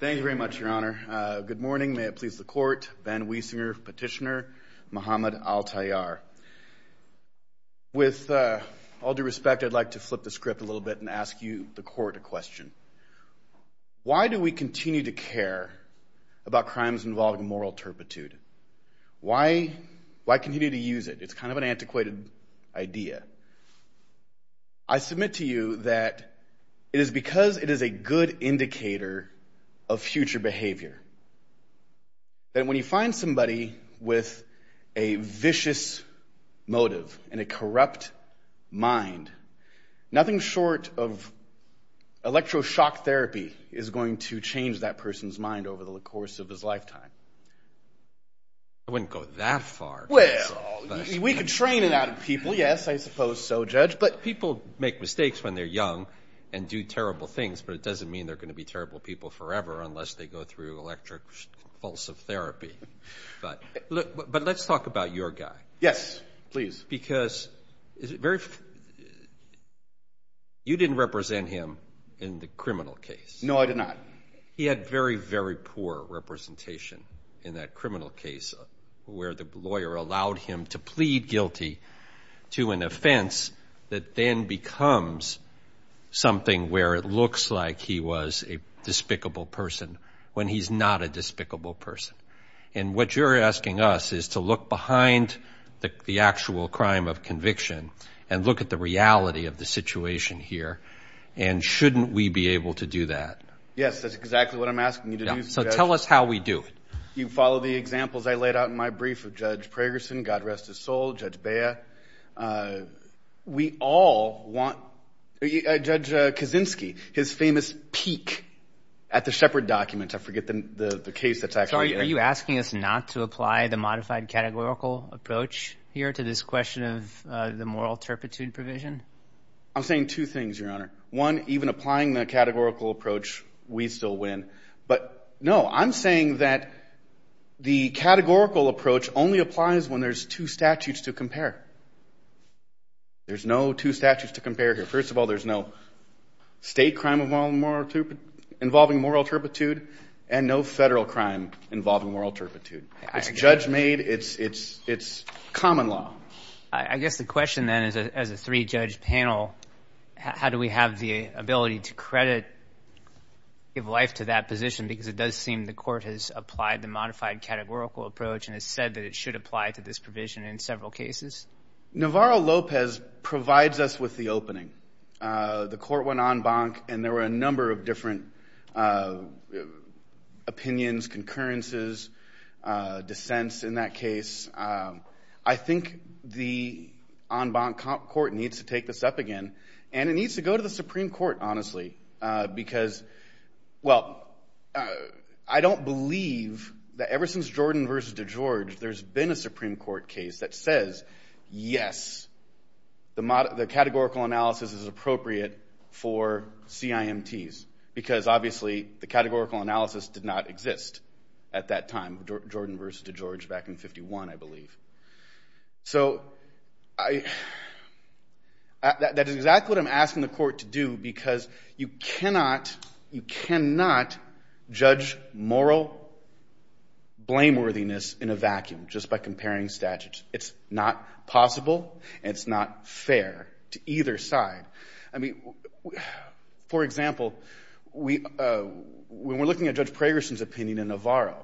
Thank you very much, Your Honor. Good morning. May it please the Court, Ben Wiesinger, Petitioner, Mohammed Altayar. With all due respect, I'd like to flip the script a little bit and ask you, the Court, a question. Why do we continue to care about crimes involving moral turpitude? Why continue to use it? It's kind of an antiquated idea. I submit to you that it is because it is a indicator of future behavior, that when you find somebody with a vicious motive and a corrupt mind, nothing short of electroshock therapy is going to change that person's mind over the course of his lifetime. I wouldn't go that far. Well, we could train it out of people. Yes, I suppose so, Judge. But people make mistakes when they're young and do terrible things, but it doesn't mean they're going to be terrible people forever unless they go through electroshock therapy. But let's talk about your guy. Yes, please. Because you didn't represent him in the criminal case. No, I did not. He had very, very poor representation in that criminal case where the lawyer allowed him to plead guilty to an offense that then becomes something where it he was a despicable person when he's not a despicable person. And what you're asking us is to look behind the actual crime of conviction and look at the reality of the situation here. And shouldn't we be able to do that? Yes, that's exactly what I'm asking you to do. So tell us how we do it. You follow the examples I laid out in my brief of Judge Pragerson, God rest his soul, Judge Bea. We all want Judge Kaczynski, his famous peek at the Shepard document. I forget the case that's actually in it. Are you asking us not to apply the modified categorical approach here to this question of the moral turpitude provision? I'm saying two things, Your Honor. One, even applying the categorical approach, we still win. But no, I'm saying that the categorical approach only applies when there's two statutes to compare. There's no two statutes to compare here. First of all, there's no state crime involving moral turpitude and no federal crime involving moral turpitude. It's judge-made. It's common law. I guess the question then is, as a three-judge panel, how do we have the ability to credit, give life to that position? Because it does seem the court has applied the modified categorical approach and has said that it should apply to this provision in several cases. Navarro-Lopez provides us with the opening. The court went en banc and there were a number of different opinions, concurrences, dissents in that case. I think the en banc court needs to this up again and it needs to go to the Supreme Court, honestly. I don't believe that ever since Jordan v. DeGeorge, there's been a Supreme Court case that says, yes, the categorical analysis is appropriate for CIMTs because, obviously, the categorical analysis did not exist at that time, Jordan v. DeGeorge back in 1951, I believe. So that is exactly what I'm asking the court to do because you cannot judge moral blameworthiness in a vacuum just by comparing statutes. It's not possible and it's not fair to either side. I mean, for example, when we're looking at Judge DeGeorge,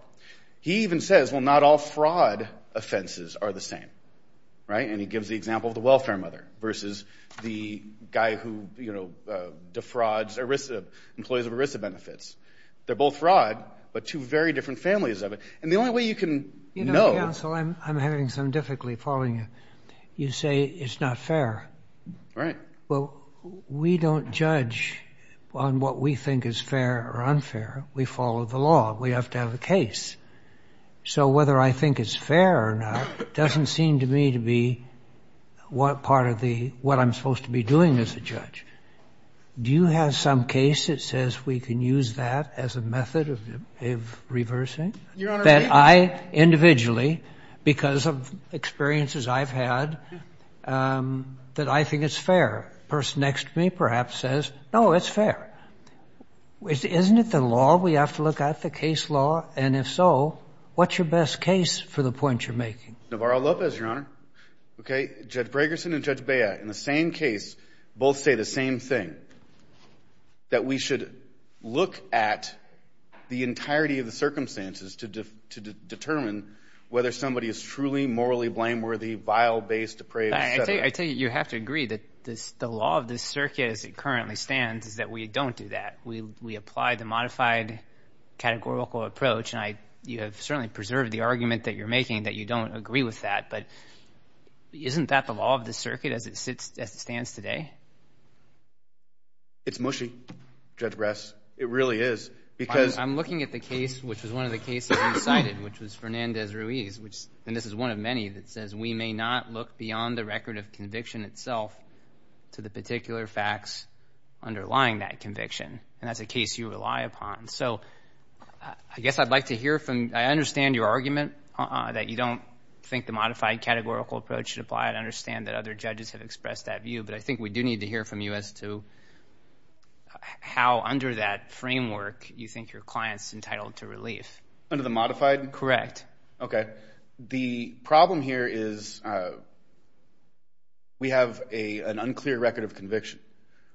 he even says, well, not all fraud offenses are the same, right? And he gives the example of the welfare mother versus the guy who defrauds employees of ERISA benefits. They're both fraud, but two very different families of it. And the only way you can know... You know, counsel, I'm having some difficulty following you. You say it's not fair. Right. Well, we don't judge on what we think is fair or unfair. We follow the law. We have to have a case. So whether I think it's fair or not doesn't seem to me to be what part of the... what I'm supposed to be doing as a judge. Do you have some case that says we can use that as a method of reversing? Your Honor... That I individually, because of experiences I've had, that I think it's fair. Person next to me perhaps says, no, it's fair. Isn't it the law? We have to look at the case law. And if so, what's your best case for the point you're making? Navarro-Lopez, Your Honor. Okay. Judge Bragerson and Judge Bea, in the same case, both say the same thing, that we should look at the entirety of the circumstances to determine whether somebody is truly morally blameworthy, vile, based, depraved, etc. I think you have to agree that the law of this circuit as it currently stands is that we don't do that. We apply the modified categorical approach. And you have certainly preserved the argument that you're making that you don't agree with that. But isn't that the law of the circuit as it stands today? It's mushy, Judge Brass. It really is. Because... I'm looking at the case, which was one of the cases you cited, which was Fernandez-Ruiz, and this is one of many, that says we may not look beyond the record of conviction itself to the particular facts underlying that conviction. And that's a case you rely upon. So, I guess I'd like to hear from... I understand your argument that you don't think the modified categorical approach should apply. I understand that other judges have expressed that view. But I think we do need to hear from you as to how, under that framework, you think your client's entitled to relief. Under the modified? Correct. Okay. The problem here is we have an unclear record of conviction.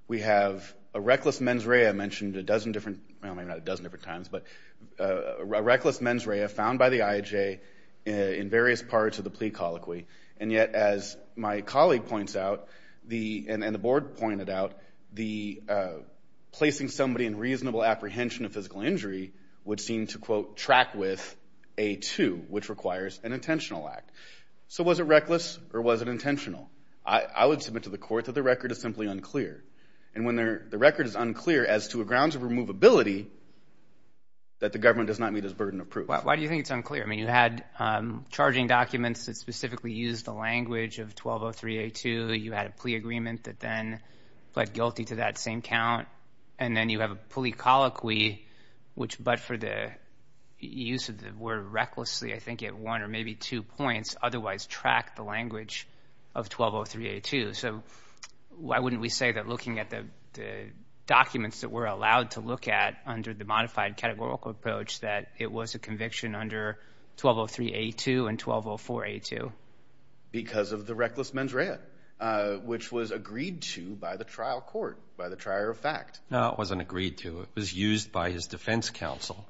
We have a reckless mens rea mentioned a dozen different... Well, maybe not a dozen different times, but a reckless mens rea found by the IHA in various parts of the plea colloquy. And yet, as my colleague points out, and the board pointed out, placing somebody in reasonable apprehension of physical injury would seem to, quote, track with A2, which requires an intentional act. So, was it reckless or was it intentional? I would submit to the court that the record is simply unclear. And when the record is unclear as to a grounds of removability, that the government does not meet its burden of proof. Why do you think it's unclear? I mean, you had charging documents that specifically used the language of 1203A2. You had a plea agreement that then pled guilty to that same count. And then you have a plea colloquy which, but for the use of the word recklessly, I think at one or maybe two points, otherwise track the language of 1203A2. So, why wouldn't we say that looking at the documents that we're allowed to look at under the modified categorical approach that it was a conviction under 1203A2 and 1204A2? Because of the reckless mens rea, which was agreed to by the trial court, by the trier of fact. No, it wasn't agreed to. It was used by his defense counsel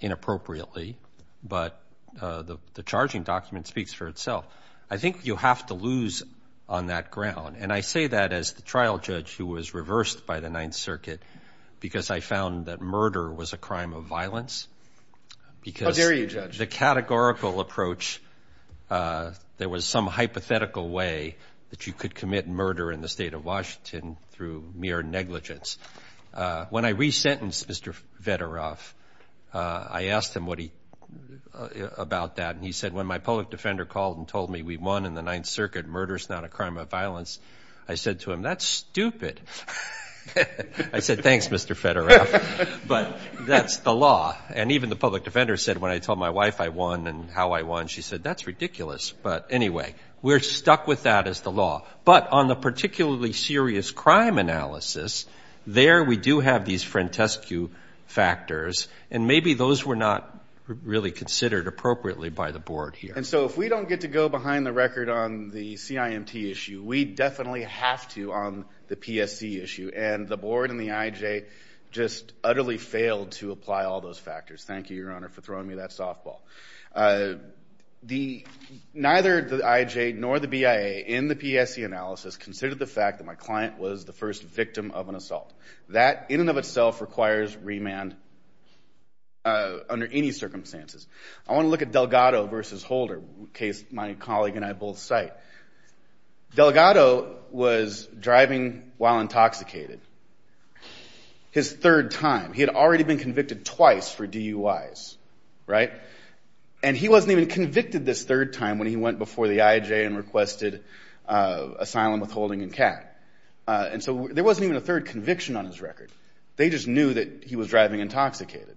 inappropriately. But the charging document speaks for itself. I think you have to lose on that ground. And I say that as the trial judge who was reversed by the Ninth Circuit, because I found that murder was a crime of violence. How dare you, Judge? Because the categorical approach, there was some hypothetical way that you could commit murder in the state of Washington through mere negligence. When I resentenced Mr. Federoff, I asked him what he, about that. And he said, when my public defender called and told me we won in the Ninth Circuit, murder is not a crime of violence. I said to him, that's stupid. I said, thanks, Mr. Federoff, but that's the law. And even the public defender said, when I told my wife I won and how I won, she said, that's ridiculous. But anyway, we're stuck with that as the law. But on the particularly serious crime analysis, there we do have these frantescu factors, and maybe those were not really considered appropriately by the board here. And so if we don't get to go behind the record on the CIMT issue, we definitely have to on the PSC issue. And the board and the IJ just utterly failed to apply all those factors. Thank you, Your Honor, for throwing me that softball. Neither the IJ nor the BIA in the PSC analysis considered the fact that my client was the first victim of an assault. That in and of itself requires remand under any circumstances. I want to look at Delgado versus Holder, a case my colleague and I both cite. Delgado was driving while intoxicated. His third time. He had already been convicted twice for DUIs, right? And he wasn't even convicted this third time when he went before the IJ and requested asylum, withholding, and cat. And so there wasn't even a third conviction on his record. They just knew that he was driving intoxicated.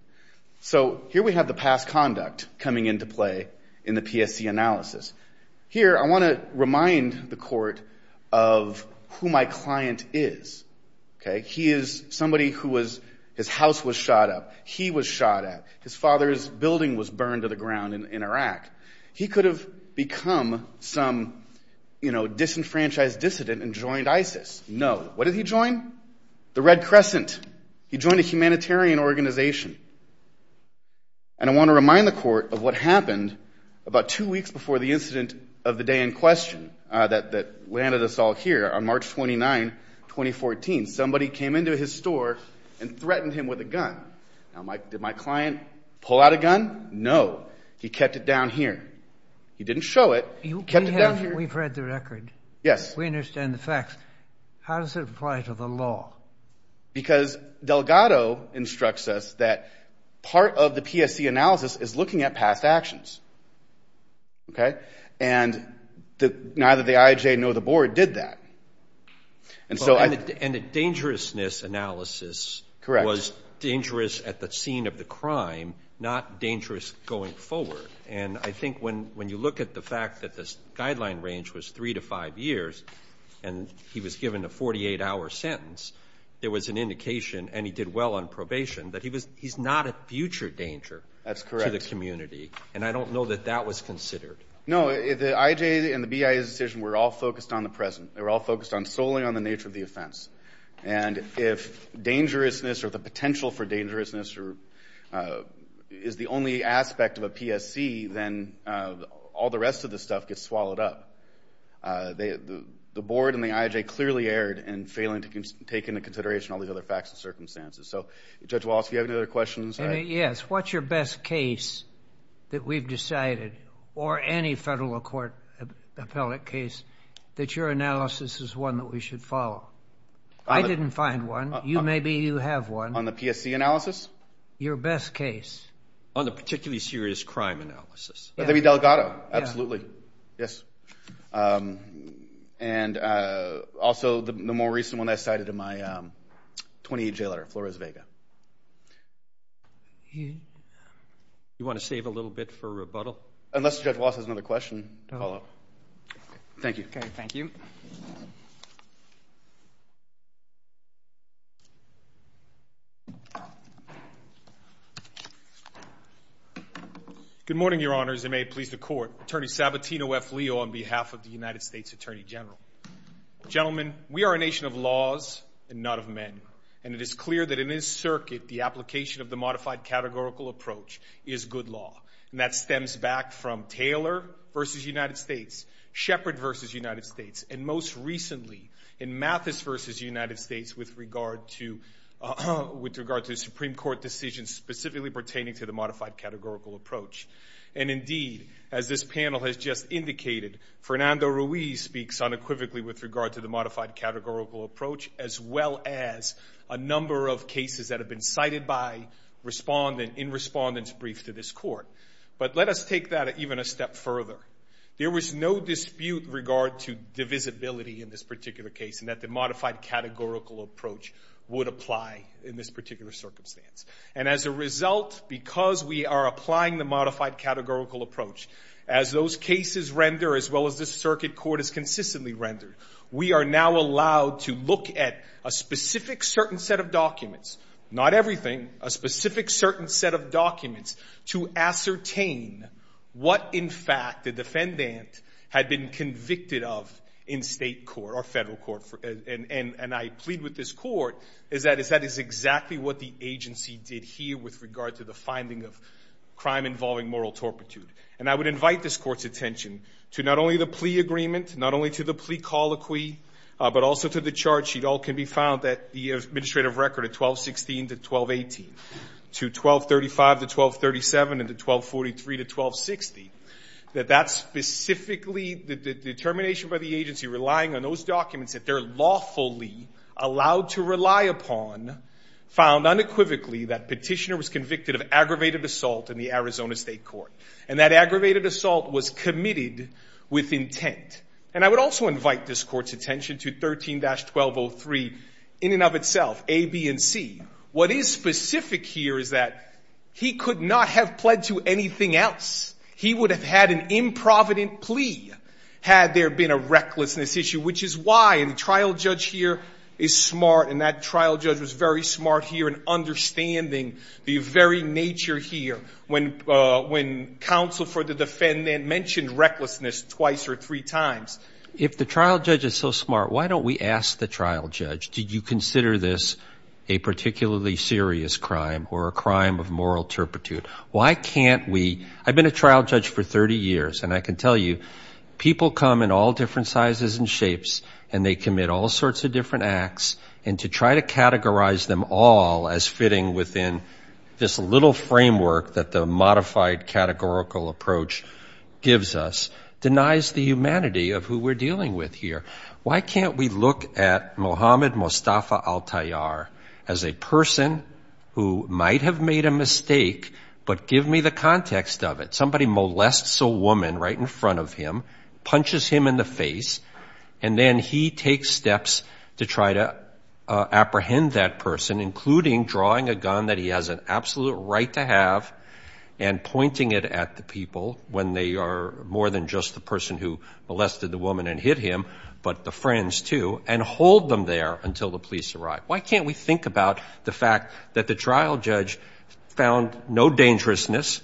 So here we have the past conduct coming into play in the PSC analysis. Here, I want to remind the court of who my client is, okay? He is somebody who was, his house was shot up. He was shot at. His father's building was burned to the ground in Iraq. He could have become some, you know, disenfranchised dissident and joined ISIS. No. What did he join? The Red Crescent. He joined a humanitarian organization. And I want to remind the court of what happened about two weeks before the incident of the day in question that landed us all here on March 29, 2014. Somebody came into his store and threatened him with a gun. Now, did my client pull out a gun? No. He kept it down here. He didn't show it. He kept it down here. We've read the record. Yes. We understand the facts. How does it apply to the law? Because Delgado instructs us that part of the PSC analysis is looking at past actions, okay? And neither the IAJ nor the board did that. And so I... And the dangerousness analysis was dangerous at the scene of the crime, not dangerous going forward. And I think when you look at the fact that this guideline range was three to five years, and he was given a 48-hour sentence, there was an indication, and he did well on probation, that he's not a future danger... That's correct. ...to the community. And I don't know that that was considered. No. The IAJ and the BIA's decision were all focused on the present. They were all focused solely on the nature of the offense. And if dangerousness or the potential for dangerousness is the only aspect of a PSC, then all the rest of the stuff gets swallowed up. The board and the IAJ clearly erred in failing to take into consideration all the other facts and circumstances. So, Judge Wallace, do you have any other questions? Yes. What's your best case that we've decided, or any federal court appellate case, that your analysis is one that we should follow? I didn't find one. Maybe you have one. On the PSC analysis? Your best case. On the particularly serious crime analysis. Maybe Delgado. Absolutely. Yes. And also, the more recent one I cited in my 28-day letter, Flores-Vega. You want to save a little bit for rebuttal? Unless Judge Wallace has another question to follow up. Thank you. Okay. Thank you. Good morning, Your Honors, and may it please the Court. Attorney Sabatino F. Leo on behalf of the United States Attorney General. Gentlemen, we are a nation of laws and not of men. And it is clear that in this circuit, the application of the modified categorical approach is good law. And that stems back from Taylor v. United States, Shepard v. United States, and most recently, in Mathis v. United States, with regard to the Supreme Court decision specifically pertaining to the modified categorical approach. And indeed, as this panel has just indicated, Fernando Ruiz speaks unequivocally with regard to the modified categorical approach, as well as a number of cases that have been cited by respondent in respondent's brief to this court. But let us take that even a step further. There was no dispute in regard to divisibility in this particular case, and that the modified categorical approach would apply in this particular circumstance. And as a result, because we are applying the modified categorical approach, as those cases render, as well as this circuit court has consistently rendered, we are now allowed to look at a specific certain set of documents, not everything, a specific certain set of documents to ascertain what, in fact, the defendant had been convicted of in state court or federal court. And I plead with this court is that that is exactly what the agency did here with regard to the finding of crime involving moral torpitude. And I would invite this court's attention to not only to the plea colloquy, but also to the charge sheet. All can be found that the administrative record of 1216 to 1218, to 1235 to 1237, and to 1243 to 1260, that that's specifically the determination by the agency relying on those documents that they're lawfully allowed to rely upon found unequivocally that petitioner was convicted of aggravated assault in the Arizona state court. And that aggravated assault was committed with intent. And I would also invite this court's attention to 13-1203 in and of itself, A, B, and C. What is specific here is that he could not have pled to anything else. He would have had an improvident plea had there been a recklessness issue, which is why a trial judge here is smart, and that trial judge was smart here in understanding the very nature here when counsel for the defendant mentioned recklessness twice or three times. If the trial judge is so smart, why don't we ask the trial judge, did you consider this a particularly serious crime or a crime of moral torpitude? Why can't we? I've been a trial judge for 30 years, and I can tell you people come in all different ways. I've been a trial judge for 30 years, and I can tell you people come in all different ways. This little framework that the modified categorical approach gives us denies the humanity of who we're dealing with here. Why can't we look at Mohammed Mustafa Al-Tayyar as a person who might have made a mistake, but give me the context of it. Somebody molests a woman right in front of him, punches him in the face, and then he takes steps to try to apprehend that person, including drawing a gun that he has an absolute right to have and pointing it at the people when they are more than just the person who molested the woman and hit him, but the friends too, and hold them there until the police arrive. Why can't we think about the fact that the trial judge found no dangerousness,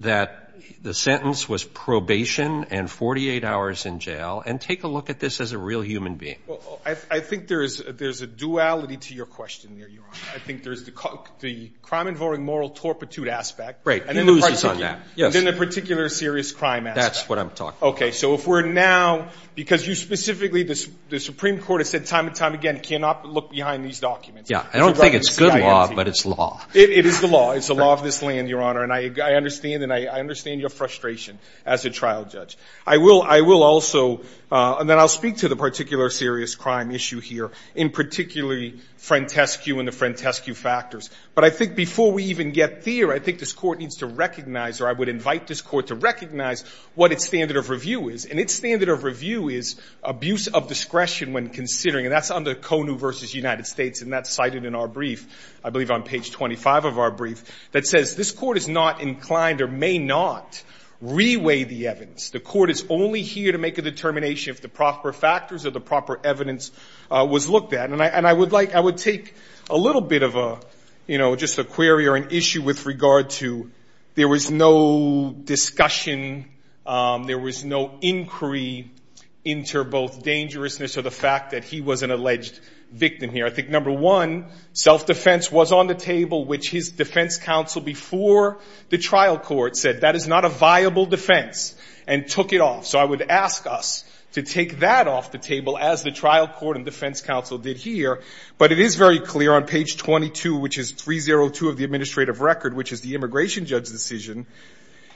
that the sentence was probation and 48 hours in jail, and take a look at this as a real human being? Well, I think there's a duality to your question there, Your Honor. I think there's the crime involving moral torpitude aspect, and then the particular serious crime aspect. That's what I'm talking about. Okay, so if we're now, because you specifically, the Supreme Court has said time and time again, cannot look behind these documents. Yeah, I don't think it's good law, but it's law. It is the law. It's the law of this land, Your Honor, and I understand your frustration as a trial judge. I will also, and then I'll speak to the particular serious crime issue here, in particularly, Frantescu and the Frantescu factors, but I think before we even get there, I think this court needs to recognize, or I would invite this court to recognize what its standard of review is, and its standard of review is abuse of discretion when considering, and that's under CONU versus United States, and that's cited in our brief, I believe on page 25 of our brief, that says this court is not inclined or may not reweigh the evidence. The court is only here to make a determination if the proper factors or the proper evidence was looked at, and I would like, I would take a little bit of a, you know, just a query or an issue with regard to there was no discussion, there was no inquiry into both dangerousness or the fact that he was an alleged victim here. I think number one, self-defense was on the table, which his defense counsel before the trial court said that is not a viable defense and took it off, so I would ask us to take that off the table as the trial court and defense counsel did here, but it is very clear on page 22, which is 302 of the administrative record, which is the immigration judge decision,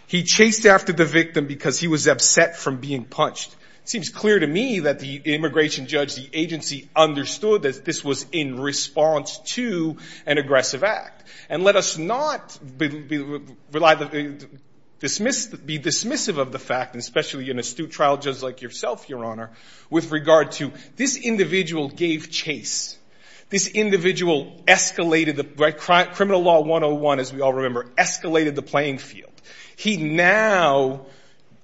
he chased after the victim because he was upset from being punched. It seems clear to me that the immigration judge, the agency, understood that this was in response to an aggressive act, and let us not rely, be dismissive of the fact, especially in an astute trial just like yourself, Your Honor, with regard to this individual gave chase. This individual escalated the, criminal law 101, as we all remember, escalated the playing field. He now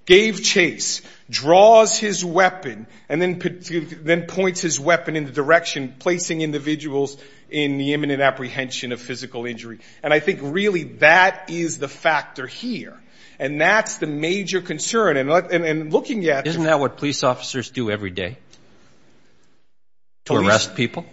gave chase, draws his weapon, and then points his weapon in the direction, placing individuals in the imminent apprehension of physical injury, and I think really that is the factor here, and that's the major concern, and looking at... Isn't that what police officers do every day? To arrest people?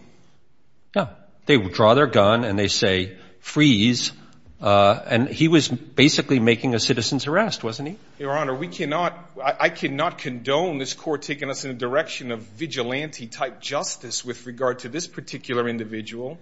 Yeah. They would draw their gun and they say, freeze, and he was basically making a citizen's arrest, wasn't he? Your Honor, we cannot, I cannot condone this court taking us in the direction of vigilante-type justice with regard to this particular individual.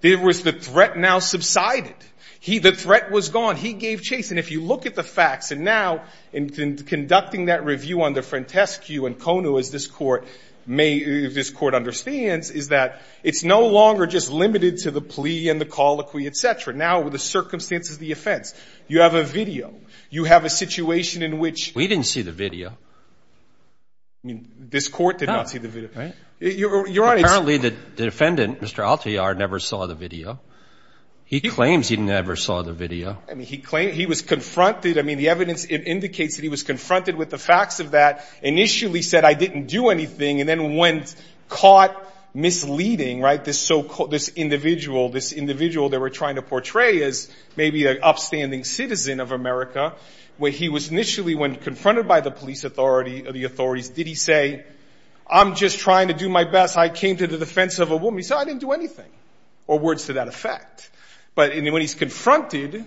There was the threat now subsided. He, the threat was gone. He gave chase, and if you look at the facts, and now in conducting that review under Frantescu and Konu, as this court may, this court understands, is that it's no longer just limited to the plea and the colloquy, etc. Now with the circumstances of the offense, you have a video. You have a situation in which... We didn't see the video. I mean, this court did not see the video, right? Your Honor, it's... Apparently, the defendant, Mr. Altiar, never saw the video. He claims he never saw the video. I mean, he claimed he was confronted. I mean, the evidence indicates that he was confronted with the facts of that, initially said, I didn't do anything, and then went, caught misleading, right? This so-called, this individual, this individual they were trying to portray as maybe an upstanding citizen of America, where he was initially, when the authorities, did he say, I'm just trying to do my best. I came to the defense of a woman. He said, I didn't do anything, or words to that effect, but when he's confronted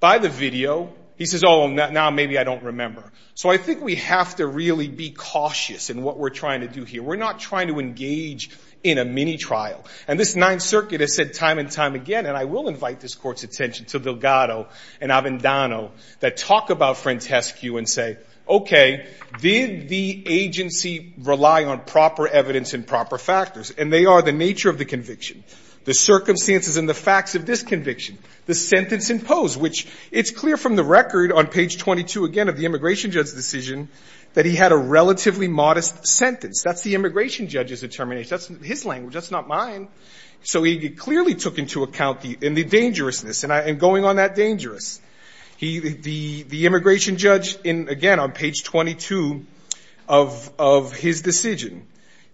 by the video, he says, oh, now maybe I don't remember. So I think we have to really be cautious in what we're trying to do here. We're not trying to engage in a mini trial, and this Ninth Circuit has said time and time again, and I will invite this court's attention to Delgado and Avendano that talk about Frantescu and say, okay, did the agency rely on proper evidence and proper factors? And they are the nature of the conviction, the circumstances and the facts of this conviction, the sentence imposed, which it's clear from the record on page 22, again, of the immigration judge's decision, that he had a relatively modest sentence. That's the immigration judge's determination. That's his language. That's not mine. So he clearly took into account the, and the dangerousness, and I, and going on that on page 22 of his decision,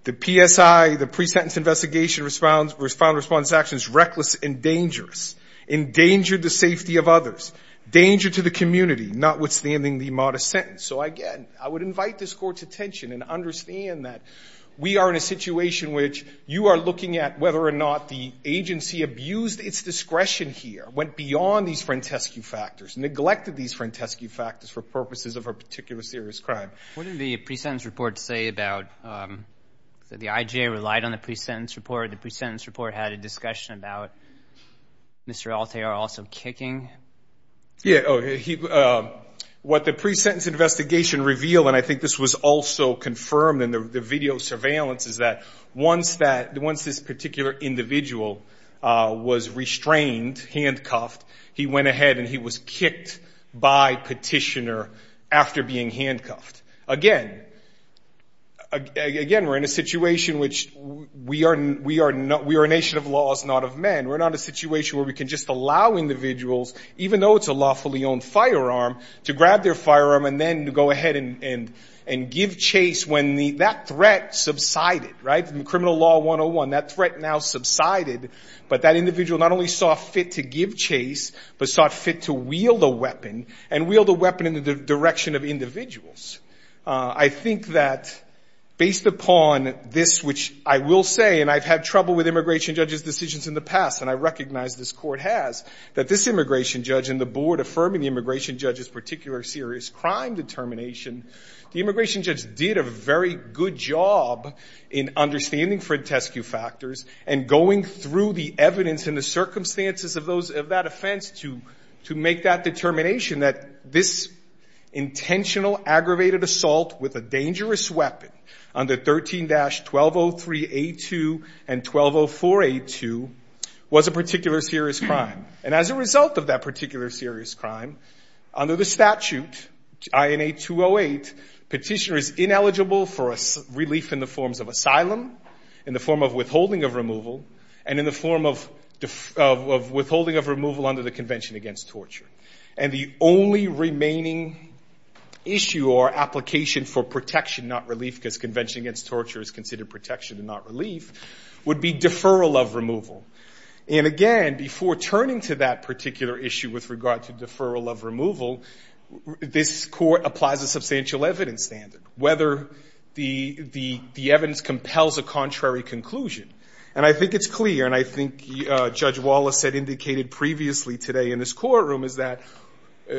the PSI, the pre-sentence investigation response, response actions, reckless and dangerous, endangered the safety of others, danger to the community, notwithstanding the modest sentence. So again, I would invite this court's attention and understand that we are in a situation which you are looking at whether or not the agency abused its discretion here, went beyond these Frantescu factors, neglected these Frantescu factors for purposes of a particular serious crime. What did the pre-sentence report say about, that the IJA relied on the pre-sentence report? The pre-sentence report had a discussion about Mr. Altea also kicking? Yeah. Oh, he, what the pre-sentence investigation revealed, and I think this was also confirmed in the video surveillance, is that once that, once this particular individual was restrained, handcuffed, he went ahead and he was kicked by petitioner after being handcuffed. Again, again, we're in a situation which we are, we are not, we are a nation of laws, not of men. We're not a situation where we can just allow individuals, even though it's a lawfully owned firearm, to grab their firearm and then to go ahead and, and, and give chase when the, that threat subsided, right? From criminal law 101, that threat now subsided, but that individual not only saw fit to give chase, but saw fit to wield a weapon and wield a weapon in the direction of individuals. I think that based upon this, which I will say, and I've had trouble with immigration judges' decisions in the past, and I recognize this court has, that this immigration judge and the board affirming the immigration judge's particular serious crime determination, the immigration judge did a very good job in understanding Frantescu factors and going through the evidence and the circumstances of those, of that offense to, to make that determination that this intentional aggravated assault with a dangerous weapon under 13-1203A2 and 1204A2 was a particular serious crime. And as a result of that particular serious crime, under the statute, INA 208, petitioner is ineligible for relief in the forms of asylum, in the form of withholding of removal, and in the form of withholding of removal under the Convention Against Torture. And the only remaining issue or application for protection, not relief, because Convention Against Torture is considered protection and not relief, would be deferral of removal. This court applies a substantial evidence standard, whether the, the, the evidence compels a contrary conclusion. And I think it's clear, and I think Judge Wallace had indicated previously today in this courtroom, is that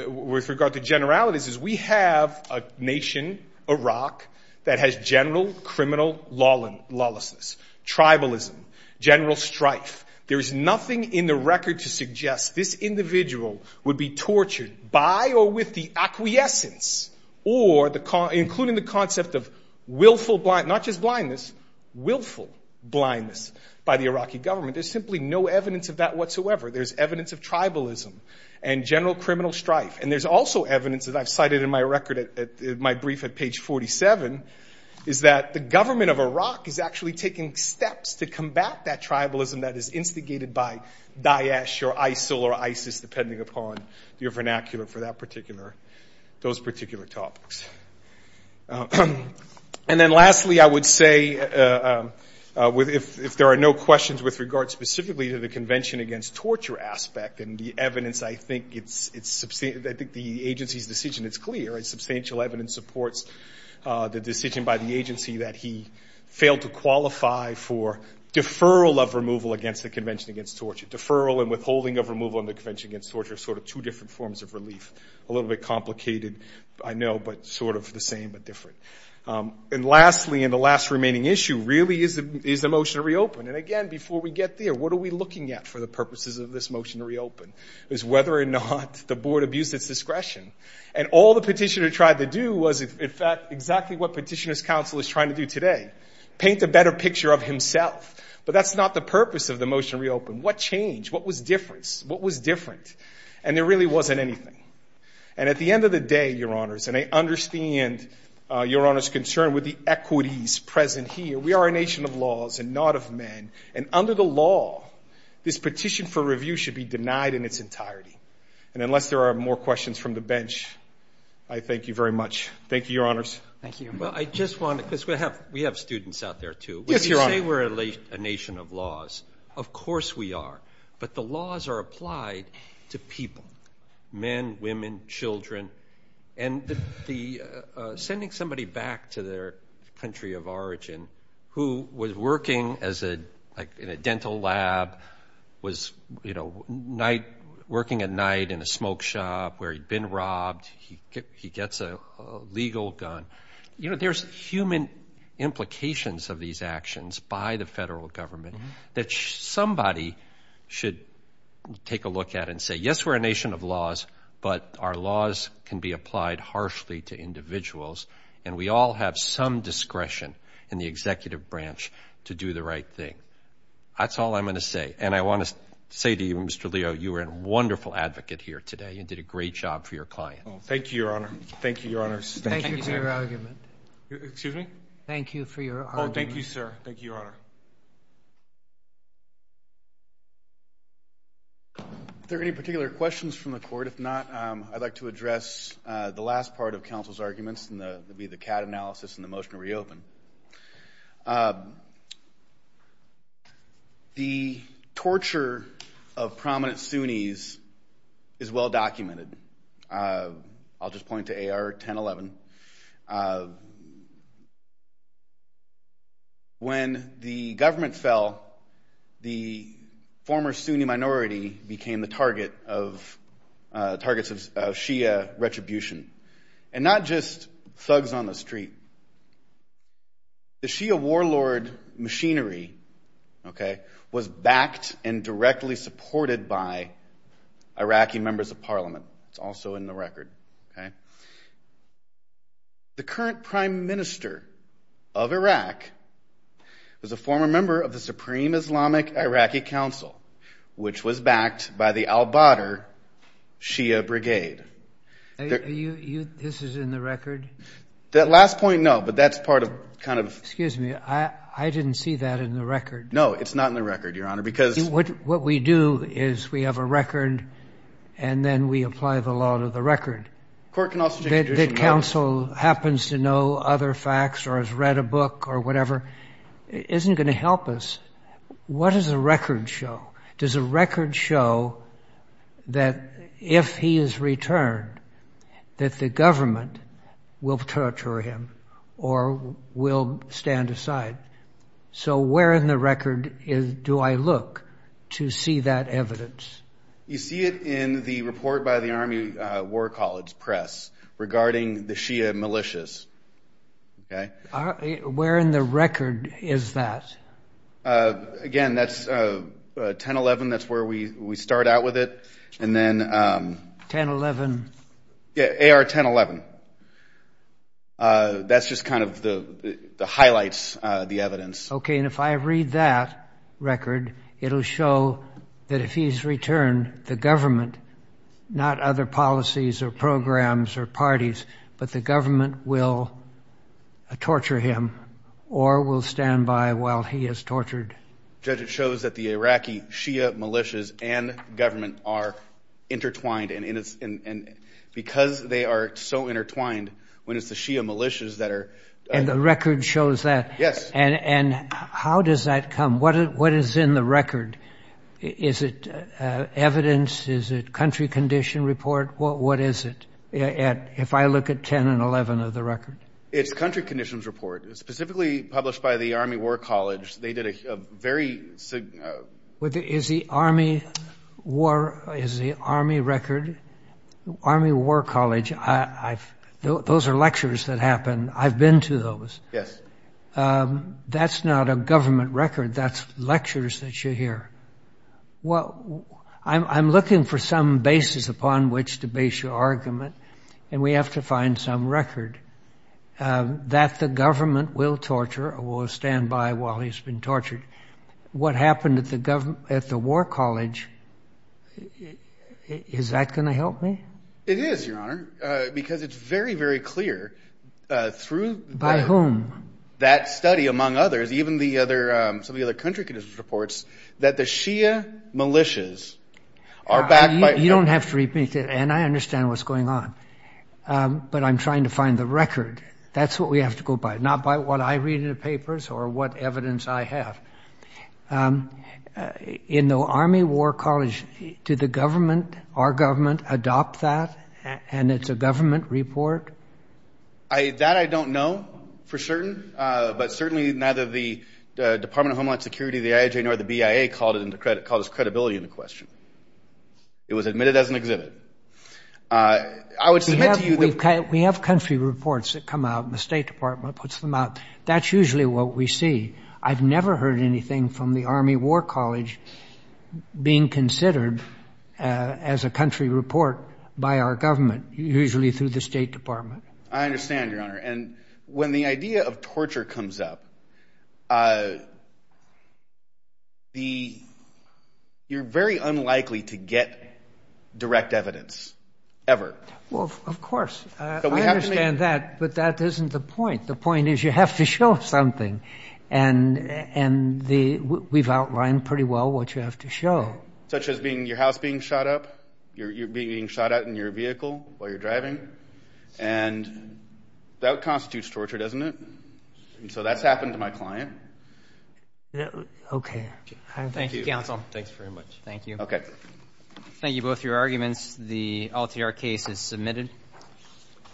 with regard to generalities, is we have a nation, Iraq, that has general criminal lawlessness, tribalism, general strife. There is nothing in the record to suggest this individual would be tortured by or with the acquiescence or the, including the concept of willful, not just blindness, willful blindness by the Iraqi government. There's simply no evidence of that whatsoever. There's evidence of tribalism and general criminal strife. And there's also evidence that I've cited in my record at, at my brief at page 47, is that the government of Iraq is actually taking steps to combat that tribalism that is instigated by Daesh or ISIL or ISIS, depending upon your vernacular for that particular, those particular topics. And then lastly, I would say with, if, if there are no questions with regard specifically to the Convention Against Torture aspect and the evidence, I think it's, it's, I think the agency's decision is clear. It's substantial evidence supports the decision by the agency that he failed to qualify for deferral of removal against the Convention Against Torture. Deferral and withholding of removal in the Convention Against Torture are sort of two different forms of relief. A little bit complicated, I know, but sort of the same, but different. And lastly, and the last remaining issue really is, is the motion to reopen. And again, before we get there, what are we looking at for the purposes of this motion to reopen? Is whether or not the board abused its discretion. And all the petitioner tried to do was, in fact, exactly what Petitioner's Council is trying to do today, paint a better picture of himself. But that's not the purpose of the motion to reopen. What changed? What was different? What was different? And there really wasn't anything. And at the end of the day, Your Honors, and I understand Your Honor's concern with the equities present here. We are a nation of laws and not of men. And under the law, this petition for review should be denied in its entirety. And unless there are more questions from the bench, I thank you very much. Thank you, Your Honors. Thank you. Well, I just want to, because we have, we have students out there too. Yes, Your Honor. When you say we're a nation of laws, of course we are. But the laws are applied to people, men, women, children. And the, sending somebody back to their country of origin, who was working as a, like in a dental lab, was, you know, night, working at night in a smoke shop where he'd been robbed. He gets a legal gun. You know, there's human implications of these actions by the federal government that somebody should take a look at and say, yes, we're a nation of laws, but our laws can be applied harshly to individuals. And we all have some discretion in the executive branch to do the right thing. That's all I'm going to say. And I want to say to you, Mr. Leo, you were a wonderful advocate here today and did a great job for your client. Thank you, Your Honor. Thank you, Your Honors. Thank you for your argument. Excuse me? Thank you for your argument. Oh, thank you, sir. Thank you, Your Honor. Are there any particular questions from the court? If not, I'd like to address the last part of counsel's arguments, and that would be the CAD analysis and the motion to reopen. The torture of prominent Sunnis is well documented. I'll just point to AR-1011. When the government fell, the former Sunni minority became the target of, Shia retribution, and not just thugs on the street. The Shia warlord machinery was backed and directly supported by Iraqi members of parliament. It's also in the record. The current prime minister of Iraq was a former member of the Supreme Islamic Iraqi Council, which was backed by the al-Badr Shia Brigade. This is in the record? That last point, no, but that's part of kind of... Excuse me, I didn't see that in the record. No, it's not in the record, Your Honor, because... What we do is we have a record, and then we apply the law to the record. Court can also... That counsel happens to know other facts or has read a book or whatever isn't going to help us. What does the record show? Does the record show that if he is returned, that the government will torture him or will stand aside? So where in the record do I look to see that evidence? You see it in the report by the Army War College Press regarding the Shia militias, okay? Where in the record is that? Again, that's 1011, that's where we start out with it. And then... 1011. Yeah, AR-1011. That's just kind of the highlights, the evidence. Okay, and if I read that record, it'll show that if he's returned, the government, not other policies or policies, will torture him or will stand by while he is tortured. Judge, it shows that the Iraqi Shia militias and government are intertwined, and because they are so intertwined, when it's the Shia militias that are... And the record shows that. Yes. And how does that come? What is in the record? Is it evidence? Is it country condition report? What is it, if I look at 10 and 11 of the record? It's country conditions report, specifically published by the Army War College. They did a very... Is the Army War... Is the Army record... Army War College, those are lectures that happen. I've been to those. Yes. That's not a government record, that's lectures that you hear. Well, I'm looking for some basis upon which to base your argument, and we have to find some record. That the government will torture or will stand by while he's been tortured. What happened at the government... At the War College, is that going to help me? It is, because it's very, very clear through... By whom? That study, among others, even some of the other country conditions reports, that the Shia militias are backed by... You don't have to repeat it, and I understand what's going on, but I'm trying to find the record. That's what we have to go by, not by what I read in the papers or what evidence I have. In the Army War College, did the government, our government, adopt that, and it's a government report? That I don't know for certain, but certainly neither the Department of Homeland Security, the IAJ, nor the BIA called this credibility into question. It was admitted as an exhibit. We have country reports that come out, and the State Department puts them out. That's usually what we see. I've never heard anything from the Army War College being considered as a country report by our government, usually through the State Department. I understand, Your Honor, and when the idea of torture comes up, you're very unlikely to get direct evidence, ever. Well, of course. I understand that, but that isn't the point. The point is you have to show something, and we've outlined pretty well what you have to show. Such as your house being shot up, you're being shot at in your vehicle while you're driving, and that constitutes torture, doesn't it? So that's happened to my client. Okay. Thank you, counsel. Thanks very much. Thank you. Okay. Thank you, both, for your arguments. The Altiar case is submitted.